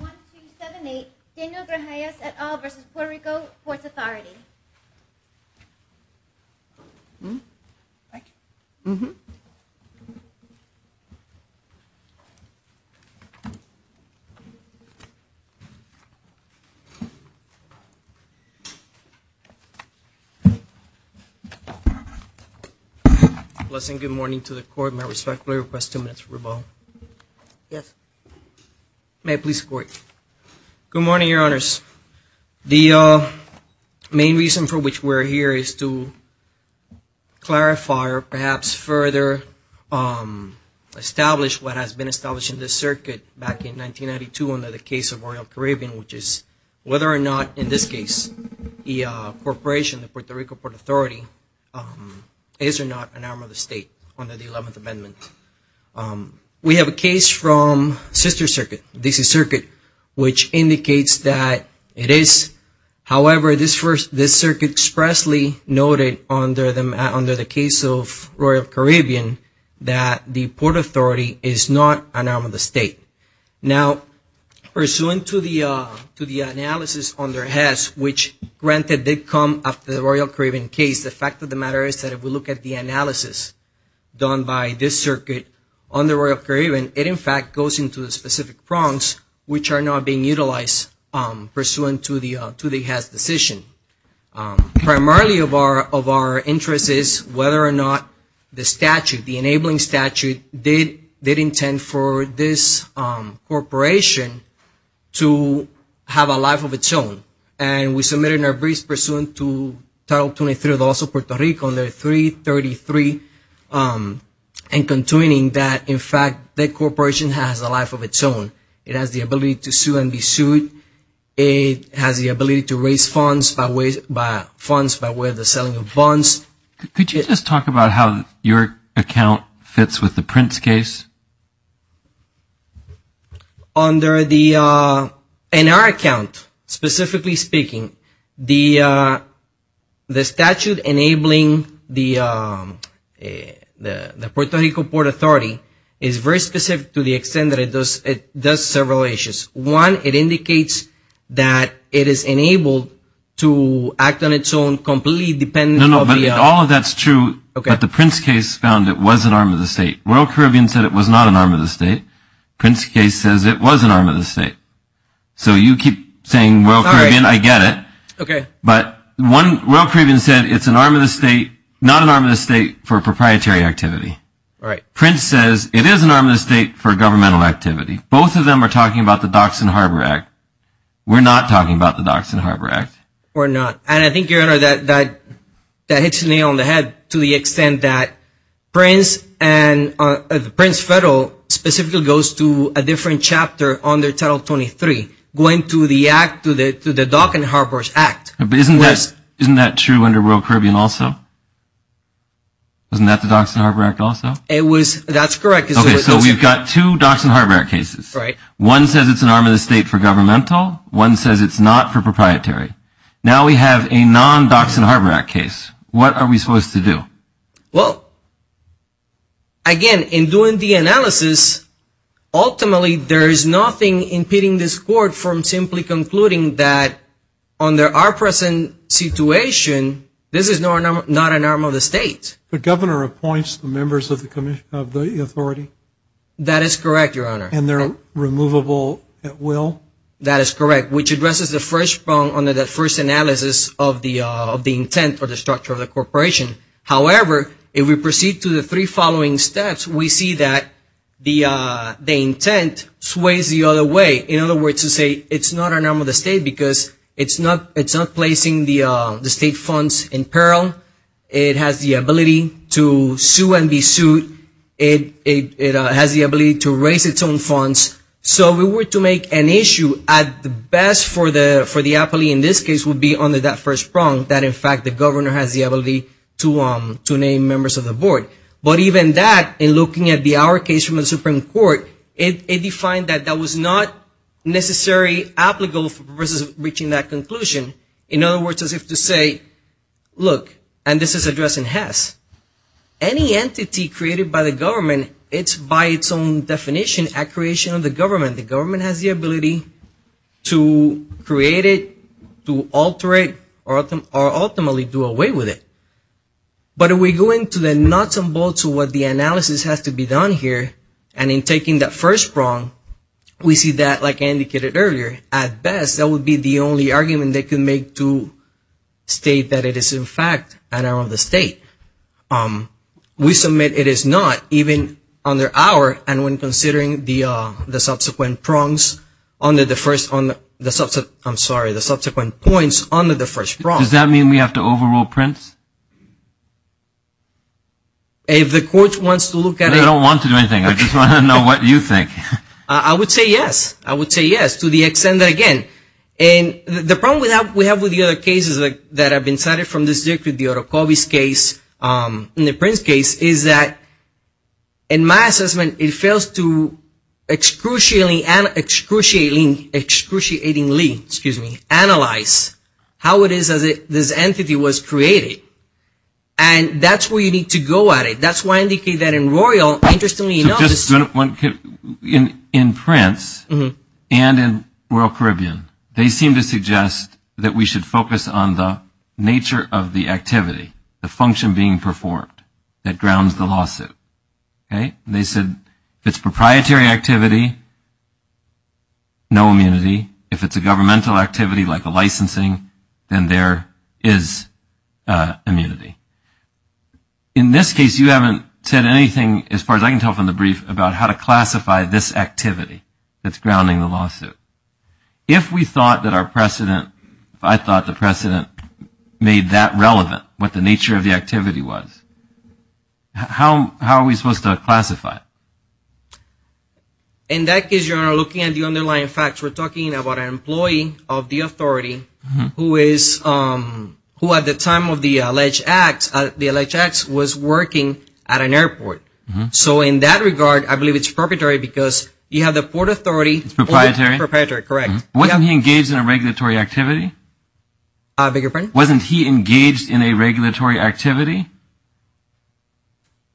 1, 2, 7, 8. Daniel Grajales et al. v. Puerto Rico Ports Authority. Blessing, good morning to the court. May I respectfully request two minutes for rebuttal? Yes. May I please support? Good morning, your honors. The main reason for which we're here is to clarify or perhaps further establish what has been established in this circuit back in 1992 under the case of Royal Caribbean, which is whether or not, in this case, the corporation, the Puerto Rico Port Authority, is or not an arm of the state under the 11th Amendment. We have a case from Sister Circuit, DC Circuit, which indicates that it is. However, this circuit expressly noted under the case of Royal Caribbean that the Port Authority is not an arm of the state. Now, pursuant to the analysis under HES, which granted did come after the Royal Caribbean case, the fact of the matter is that if we look at the analysis done by this circuit under Royal Caribbean, it in fact goes into the specific prongs which are not being utilized pursuant to the HES decision. Primarily of our interest is whether or not the statute, the enabling statute, did intend for this corporation to have a life of its own. And we submitted in our briefs pursuant to Title 23 of the Laws of Puerto Rico under 333 and concluding that, in fact, that corporation has a life of its own. It has the ability to sue and be sued. It has the ability to raise funds by way of the selling of bonds. Could you just talk about how your account fits with the Prince case? Under the, in our account, specifically speaking, the statute enabling the Puerto Rico Port Authority is very specific to the extent that it does several issues. One, it indicates that it is enabled to act on its own completely dependent on the… Prince case says it was an arm of the state. So you keep saying Royal Caribbean, I get it. Okay. But one, Royal Caribbean said it's an arm of the state, not an arm of the state for proprietary activity. Right. Prince says it is an arm of the state for governmental activity. Both of them are talking about the Docks and Harbor Act. We're not talking about the Docks and Harbor Act. We're not. And I think, Your Honor, that hits me on the head to the extent that Prince and Prince Federal specifically goes to a different chapter under Title 23, going to the Docks and Harbor Act. But isn't that true under Royal Caribbean also? Isn't that the Docks and Harbor Act also? That's correct. Okay. So we've got two Docks and Harbor Act cases. Right. One says it's an arm of the state for governmental. One says it's not for proprietary. Now we have a non-Docks and Harbor Act case. What are we supposed to do? Well, again, in doing the analysis, ultimately there is nothing impeding this Court from simply concluding that under our present situation, this is not an arm of the state. The Governor appoints the members of the authority. That is correct, Your Honor. And they're removable at will? That is correct, which addresses the first problem under the first analysis of the intent for the structure of the corporation. However, if we proceed to the three following steps, we see that the intent sways the other way. In other words to say it's not an arm of the state because it's not placing the state funds in peril. It has the ability to sue and be sued. It has the ability to raise its own funds. So if we were to make an issue at the best for the appellee in this case would be under that first prong that in fact the Governor has the ability to name members of the Board. But even that, in looking at our case from the Supreme Court, it defined that that was not necessarily applicable versus reaching that conclusion. In other words, as if to say, look, and this is addressing Hess, any entity created by the Government, it's by its own definition a creation of the Government. The Government has the ability to create it, to alter it, or ultimately do away with it. But if we go into the nuts and bolts of what the analysis has to be done here, and in taking that first prong, we see that, like I indicated earlier, at best that would be the only argument they can make to state that it is in fact an arm of the state. We submit it is not, even under our, and when considering the subsequent prongs under the first, I'm sorry, the subsequent points under the first prong. Does that mean we have to overrule Prince? If the Court wants to look at it. I don't want to do anything. I just want to know what you think. I would say yes. I would say yes to the extent that again, and the problem we have with the other cases that have been cited from this case, in the Prince case, is that in my assessment, it fails to excruciatingly analyze how it is that this entity was created. And that's where you need to go at it. That's why I indicated that in Royal. In Prince and in Royal Caribbean, they seem to suggest that we should focus on the nature of the activity, the function being performed, that grounds the lawsuit. They said if it's proprietary activity, no immunity. If it's a governmental activity like a licensing, then there is immunity. In this case, you haven't said anything as far as I can tell from the brief about how to classify this activity that's grounding the lawsuit. If we thought that our precedent, if I thought the precedent made that relevant, what the nature of the activity was, how are we supposed to classify it? In that case, you're looking at the underlying facts. We're talking about an employee of the authority who at the time of the alleged acts was working at an airport. So in that regard, I believe it's proprietary because you have the port authority. It's proprietary. It's proprietary, correct. Wasn't he engaged in a regulatory activity? I beg your pardon? Wasn't he engaged in a regulatory activity?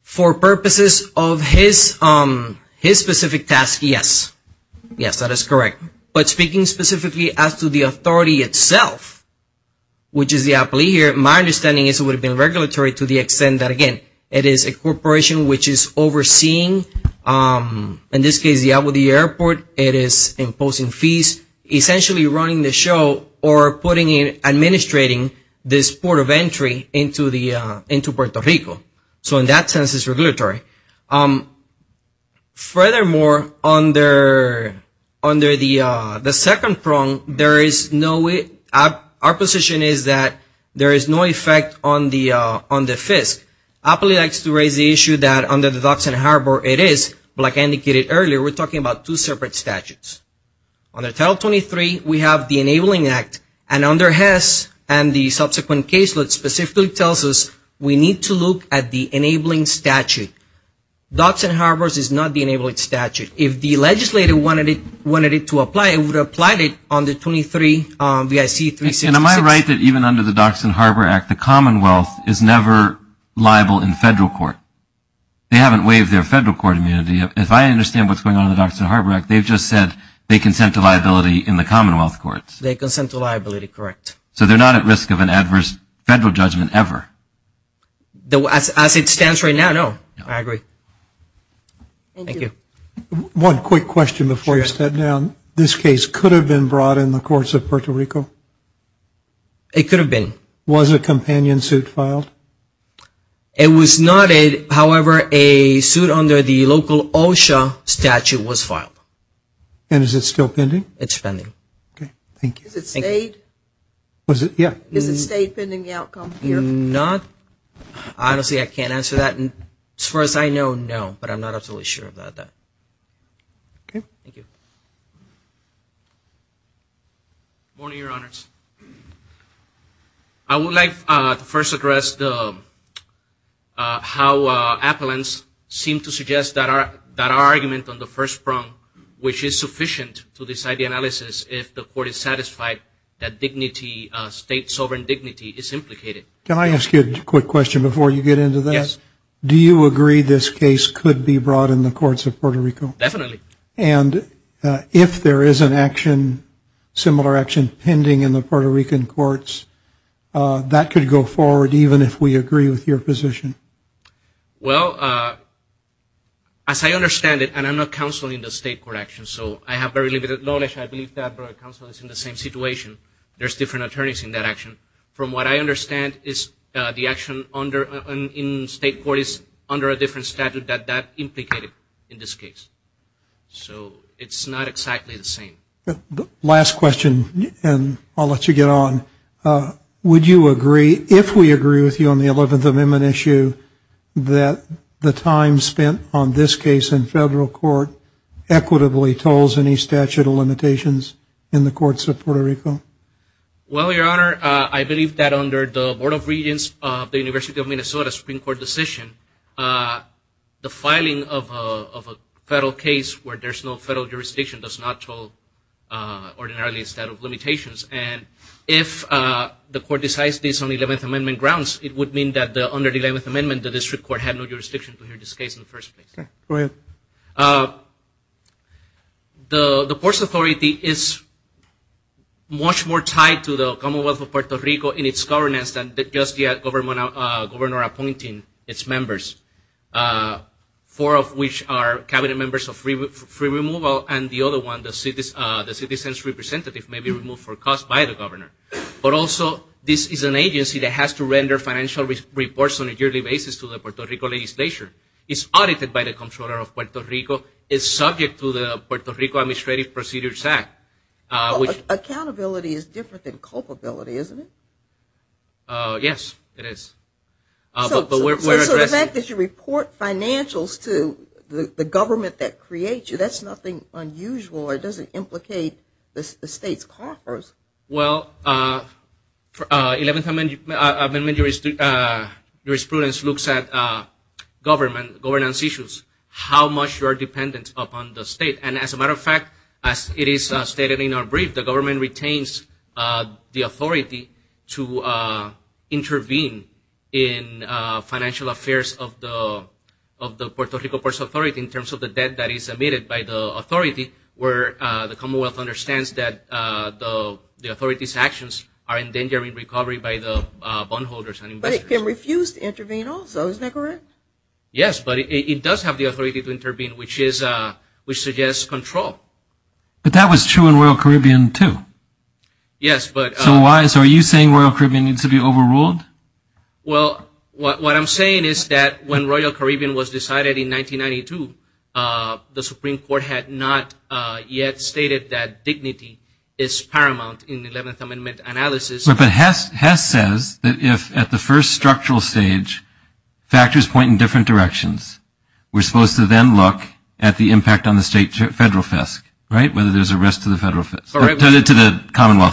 For purposes of his specific task, yes. Yes, that is correct. But speaking specifically as to the authority itself, which is the employee here, my understanding is it would have been regulatory to the extent that, again, it is a corporation which is overseeing, in this case, the airport. It is imposing fees, essentially running the show or administrating this port of entry into Puerto Rico. So in that sense, it's regulatory. Furthermore, under the second prong, our position is that there is no effect on the FISC. Appley likes to raise the issue that under the Docks and Harbor, it is, but like I indicated earlier, we're talking about two separate statutes. Under Title 23, we have the Enabling Act, and under Hess and the subsequent case, it specifically tells us we need to look at the Enabling Statute. Docks and Harbors is not the Enabling Statute. If the legislator wanted it to apply, it would apply it under 23 BIC 366. Am I right that even under the Docks and Harbor Act, the Commonwealth is never liable in federal court? They haven't waived their federal court immunity. If I understand what's going on in the Docks and Harbor Act, they've just said they consent to liability in the Commonwealth courts. They consent to liability, correct. So they're not at risk of an adverse federal judgment ever? As it stands right now, no. I agree. Thank you. One quick question before you step down. This case could have been brought in the courts of Puerto Rico? It could have been. Was a companion suit filed? It was not. However, a suit under the local OSHA statute was filed. And is it still pending? It's pending. Okay. Thank you. Is it state? Yeah. Is it state pending the outcome here? Not. Honestly, I can't answer that. And as far as I know, no. But I'm not absolutely sure about that. Okay. Thank you. Good morning, Your Honors. I would like to first address how appellants seem to suggest that our argument on the first prong, which is sufficient to decide the analysis if the court is satisfied that state sovereign dignity is implicated. Can I ask you a quick question before you get into that? Yes. Do you agree this case could be brought in the courts of Puerto Rico? Definitely. And if there is an action, similar action, pending in the Puerto Rican courts, that could go forward even if we agree with your position? Well, as I understand it, and I'm not counseling the state court action, so I have very limited knowledge. I believe that our counsel is in the same situation. There's different attorneys in that action. From what I understand, the action in state court is under a different statute that that implicated in this case. So it's not exactly the same. Last question, and I'll let you get on. Would you agree, if we agree with you on the 11th Amendment issue, that the time spent on this case in federal court equitably tolls any statute of limitations in the courts of Puerto Rico? Well, Your Honor, I believe that under the Board of Regents of the University of Minnesota Supreme Court decision, the filing of a federal case where there's no federal jurisdiction does not toll ordinarily a statute of limitations. And if the court decides this on 11th Amendment grounds, it would mean that under the 11th Amendment the district court had no jurisdiction to hear this case in the first place. Go ahead. Your Honor, the Ports Authority is much more tied to the Commonwealth of Puerto Rico in its governance than just the governor appointing its members, four of which are cabinet members of free removal, and the other one, the citizens' representative may be removed for cause by the governor. But also, this is an agency that has to render financial reports on a yearly basis to the Puerto Rico legislature. It's audited by the Comptroller of Puerto Rico. It's subject to the Puerto Rico Administrative Procedures Act. Accountability is different than culpability, isn't it? Yes, it is. So the fact that you report financials to the government that creates you, that's nothing unusual. It doesn't implicate the state's coffers. Well, 11th Amendment jurisprudence looks at governance issues, how much you are dependent upon the state. And as a matter of fact, as it is stated in our brief, the government retains the authority to intervene in financial affairs of the Puerto Rico Ports Authority in terms of the debt that is emitted by the authority where the Commonwealth understands that the authority's actions are endangering recovery by the bondholders and investors. But it can refuse to intervene also, isn't that correct? Yes, but it does have the authority to intervene, which suggests control. But that was true in Royal Caribbean, too. Yes. So are you saying Royal Caribbean needs to be overruled? Well, what I'm saying is that when Royal Caribbean was decided in 1992, the Supreme Court had not yet stated that dignity is paramount in the 11th Amendment analysis. But Hess says that if at the first structural stage factors point in different directions, we're supposed to then look at the impact on the state federal FISC, right, whether there's a risk to the Commonwealth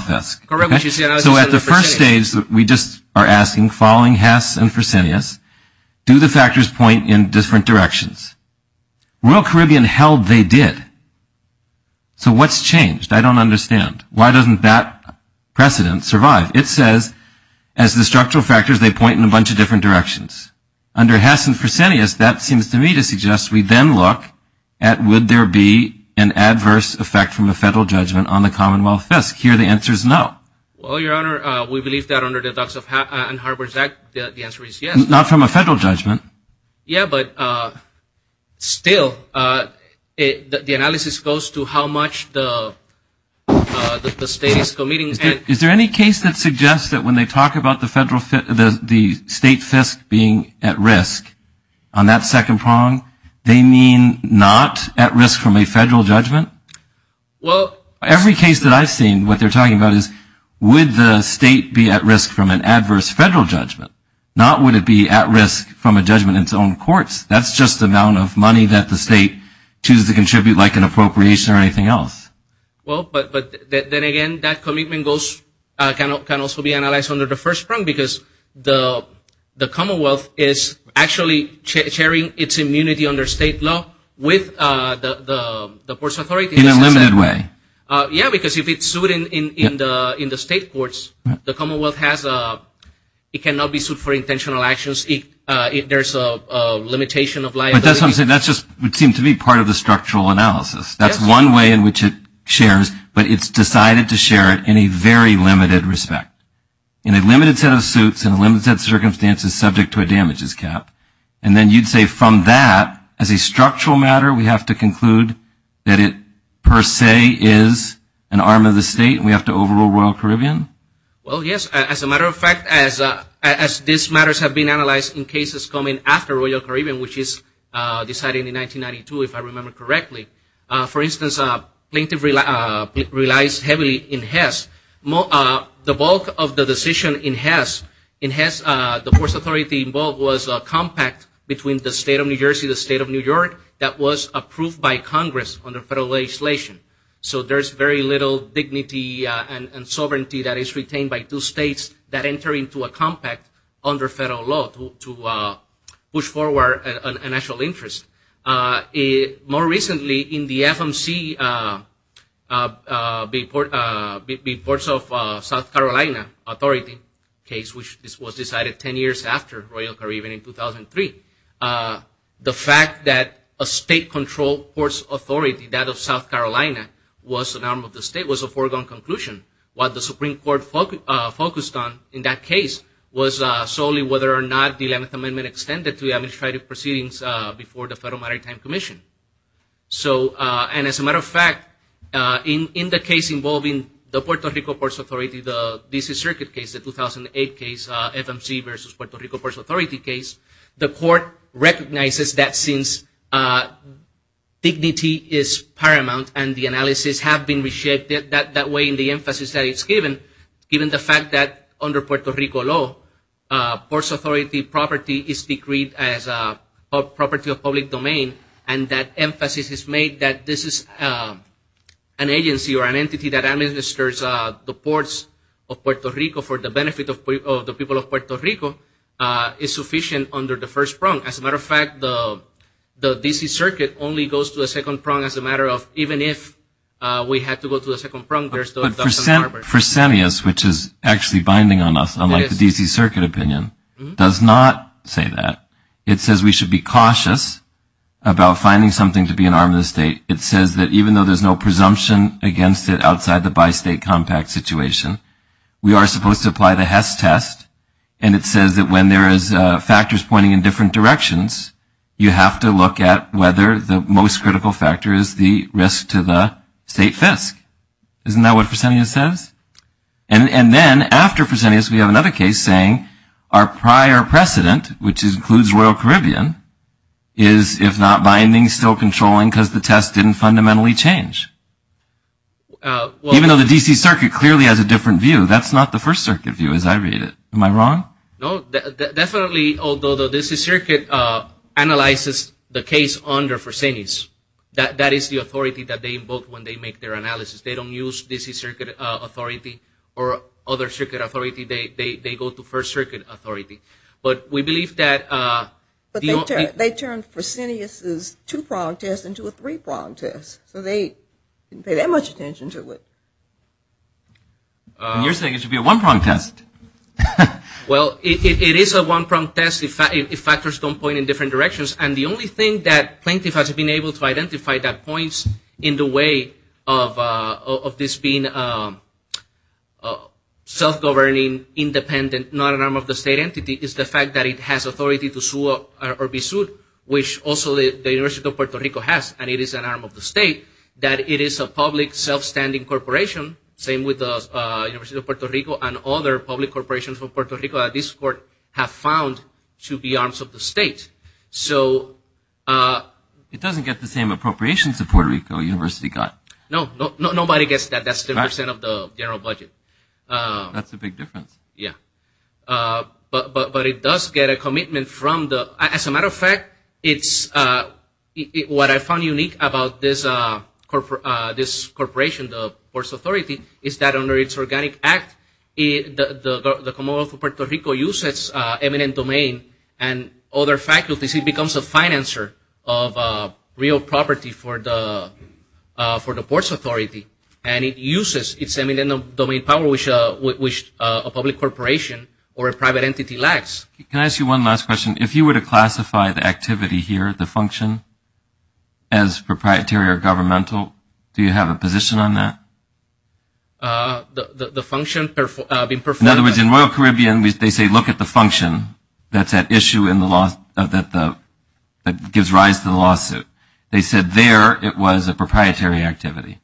FISC. Correct. So at the first stage, we just are asking, following Hess and Fresenius, do the factors point in different directions? Royal Caribbean held they did. So what's changed? I don't understand. Why doesn't that precedent survive? It says as the structural factors, they point in a bunch of different directions. Under Hess and Fresenius, that seems to me to suggest we then look at would there be an adverse effect from a federal judgment on the Commonwealth FISC. Here, the answer is no. Well, Your Honor, we believe that under the Adducts and Harbors Act, the answer is yes. Not from a federal judgment. Yeah, but still, the analysis goes to how much the state is committing. Is there any case that suggests that when they talk about the state FISC being at risk on that second prong, they mean not at risk from a federal judgment? Well, every case that I've seen, what they're talking about is would the state be at risk from an adverse federal judgment, not would it be at risk from a judgment in its own courts. That's just the amount of money that the state chooses to contribute, like an appropriation or anything else. Well, but then again, that commitment can also be analyzed under the first prong, because the Commonwealth is actually sharing its immunity under state law with the courts authorities. In a limited way. Yeah, because if it's sued in the state courts, the Commonwealth has a, it cannot be sued for intentional actions. There's a limitation of liability. But that's what I'm saying. That just would seem to be part of the structural analysis. That's one way in which it shares, but it's decided to share it in a very limited respect. In a limited set of suits, in a limited set of circumstances, subject to a damages cap. And then you'd say from that, as a structural matter, we have to conclude that it per se is an arm of the state, and we have to overrule Royal Caribbean? Well, yes. As a matter of fact, as these matters have been analyzed in cases coming after Royal Caribbean, which is decided in 1992, if I remember correctly, for instance, plaintiff relies heavily in Hess. The bulk of the decision in Hess, the force authority involved was a compact between the state of New Jersey, the state of New York, that was approved by Congress under federal legislation. So there's very little dignity and sovereignty that is retained by two states that enter into a compact under federal law to push forward a national interest. More recently, in the FMC reports of South Carolina authority case, which was decided 10 years after Royal Caribbean in 2003, the fact that a state-controlled force authority, that of South Carolina, was an arm of the state was a foregone conclusion. What the Supreme Court focused on in that case was solely whether or not the 11th Amendment could extend it to administrative proceedings before the Federal Maritime Commission. So, and as a matter of fact, in the case involving the Puerto Rico Force Authority, the D.C. Circuit case, the 2008 case, FMC versus Puerto Rico Force Authority case, the court recognizes that since dignity is paramount and the analysis have been reshaped that way in the emphasis that it's given, given the fact that under Puerto Rico law, force authority property is decreed as a property of public domain and that emphasis is made that this is an agency or an entity that administers the ports of Puerto Rico for the benefit of the people of Puerto Rico is sufficient under the first prong. As a matter of fact, the D.C. Circuit only goes to a second prong as a matter of even if we had to go to a second prong, there's still a second prong. But Fresenius, which is actually binding on us, unlike the D.C. Circuit opinion, does not say that. It says we should be cautious about finding something to be an arm of the state. It says that even though there's no presumption against it outside the bi-state compact situation, we are supposed to apply the Hess test, and it says that when there is factors pointing in different directions, you have to look at whether the most critical factor is the risk to the state FISC. Isn't that what Fresenius says? And then after Fresenius, we have another case saying our prior precedent, which includes Royal Caribbean, is if not binding, still controlling because the test didn't fundamentally change. Even though the D.C. Circuit clearly has a different view, that's not the First Circuit view as I read it. Am I wrong? No. Definitely, although the D.C. Circuit analyzes the case under Fresenius, that is the authority that they invoke when they make their analysis. They don't use D.C. Circuit authority or other circuit authority. They go to First Circuit authority. But we believe that- But they turned Fresenius' two-prong test into a three-prong test, so they didn't pay that much attention to it. You're saying it should be a one-prong test. Well, it is a one-prong test if factors don't point in different directions. And the only thing that plaintiff has been able to identify that points in the way of this being self-governing, independent, not an arm of the state entity, is the fact that it has authority to sue or be sued, which also the University of Puerto Rico has, and it is an arm of the state, that it is a public, self-standing corporation, same with the University of Puerto Rico and other public corporations from Puerto Rico that this court has found to be arms of the state. So- It doesn't get the same appropriations that Puerto Rico University got. No, nobody gets that. That's 10% of the general budget. That's a big difference. Yeah. But it does get a commitment from the- What I found unique about this corporation, the Ports Authority, is that under its Organic Act, the Commonwealth of Puerto Rico uses eminent domain and other faculties. It becomes a financer of real property for the Ports Authority, and it uses its eminent domain power, which a public corporation or a private entity lacks. Can I ask you one last question? If you were to classify the activity here, the function, as proprietary or governmental, do you have a position on that? The function- In other words, in Royal Caribbean, they say look at the function that gives rise to the lawsuit. They said there it was a proprietary activity.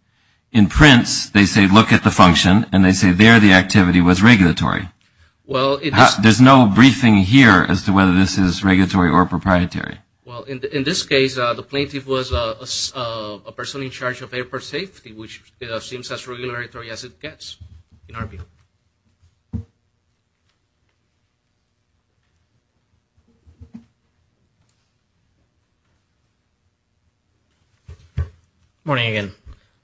In Prince, they say look at the function, and they say there the activity was regulatory. There's no briefing here as to whether this is regulatory or proprietary. Well, in this case, the plaintiff was a person in charge of airport safety, which seems as regulatory as it gets in our view. Morning again.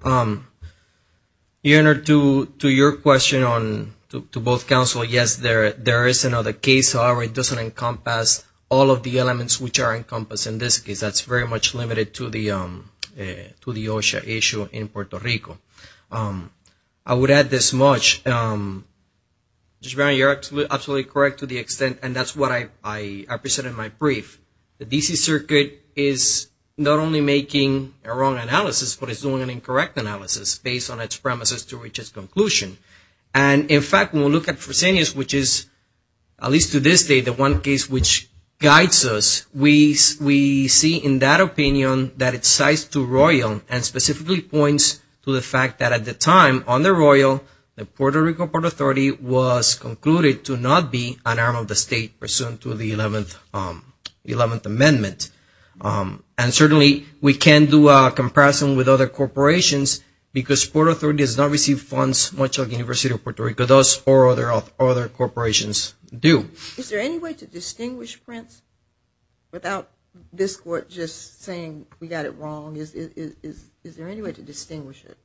In answer to your question to both counsel, yes, there is another case. However, it doesn't encompass all of the elements which are encompassed in this case. That's very much limited to the OSHA issue in Puerto Rico. I would add this much. Judge Brown, you're absolutely correct to the extent, and that's what I presented in my brief. The D.C. Circuit is not only making a wrong analysis, but it's doing an incorrect analysis based on its premises to reach its conclusion. And, in fact, when we look at Fresenius, which is, at least to this day, the one case which guides us, we see in that opinion that it cites to Royal and specifically points to the fact that at the time, under Royal, the Puerto Rico Port Authority was concluded to not be an arm of the state pursuant to the 11th Amendment. And, certainly, we can't do a comparison with other corporations because Port Authority does not receive funds much like the University of Puerto Rico does or other corporations do. Is there any way to distinguish Prince without this Court just saying we got it wrong? Is there any way to distinguish it?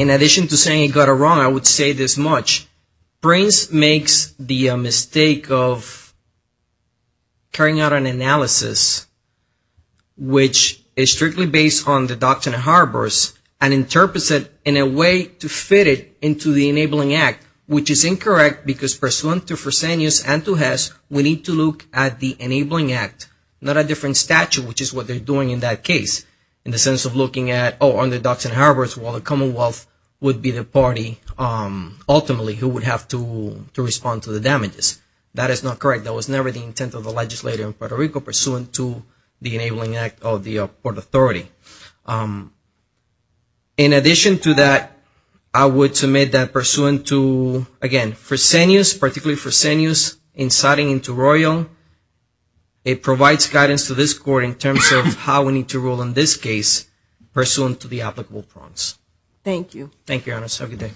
In addition to saying it got it wrong, I would say this much. Prince makes the mistake of carrying out an analysis which is strictly based on the Doctrine and Harbors and interprets it in a way to fit it into the Enabling Act, which is incorrect because, pursuant to Fresenius and to Hess, we need to look at the Enabling Act, not a different statute, which is what they're doing in that case in the sense of looking at, oh, on the Doctrine and Harbors, well, the Commonwealth would be the party, ultimately, who would have to respond to the damages. That is not correct. That was never the intent of the legislature in Puerto Rico pursuant to the Enabling Act of the Port Authority. In addition to that, I would submit that pursuant to, again, Fresenius, particularly Fresenius, inciting into Royal, it provides guidance to this Court in terms of how we need to rule in this case pursuant to the applicable prongs. Thank you. Thank you, Your Honor. Have a good day.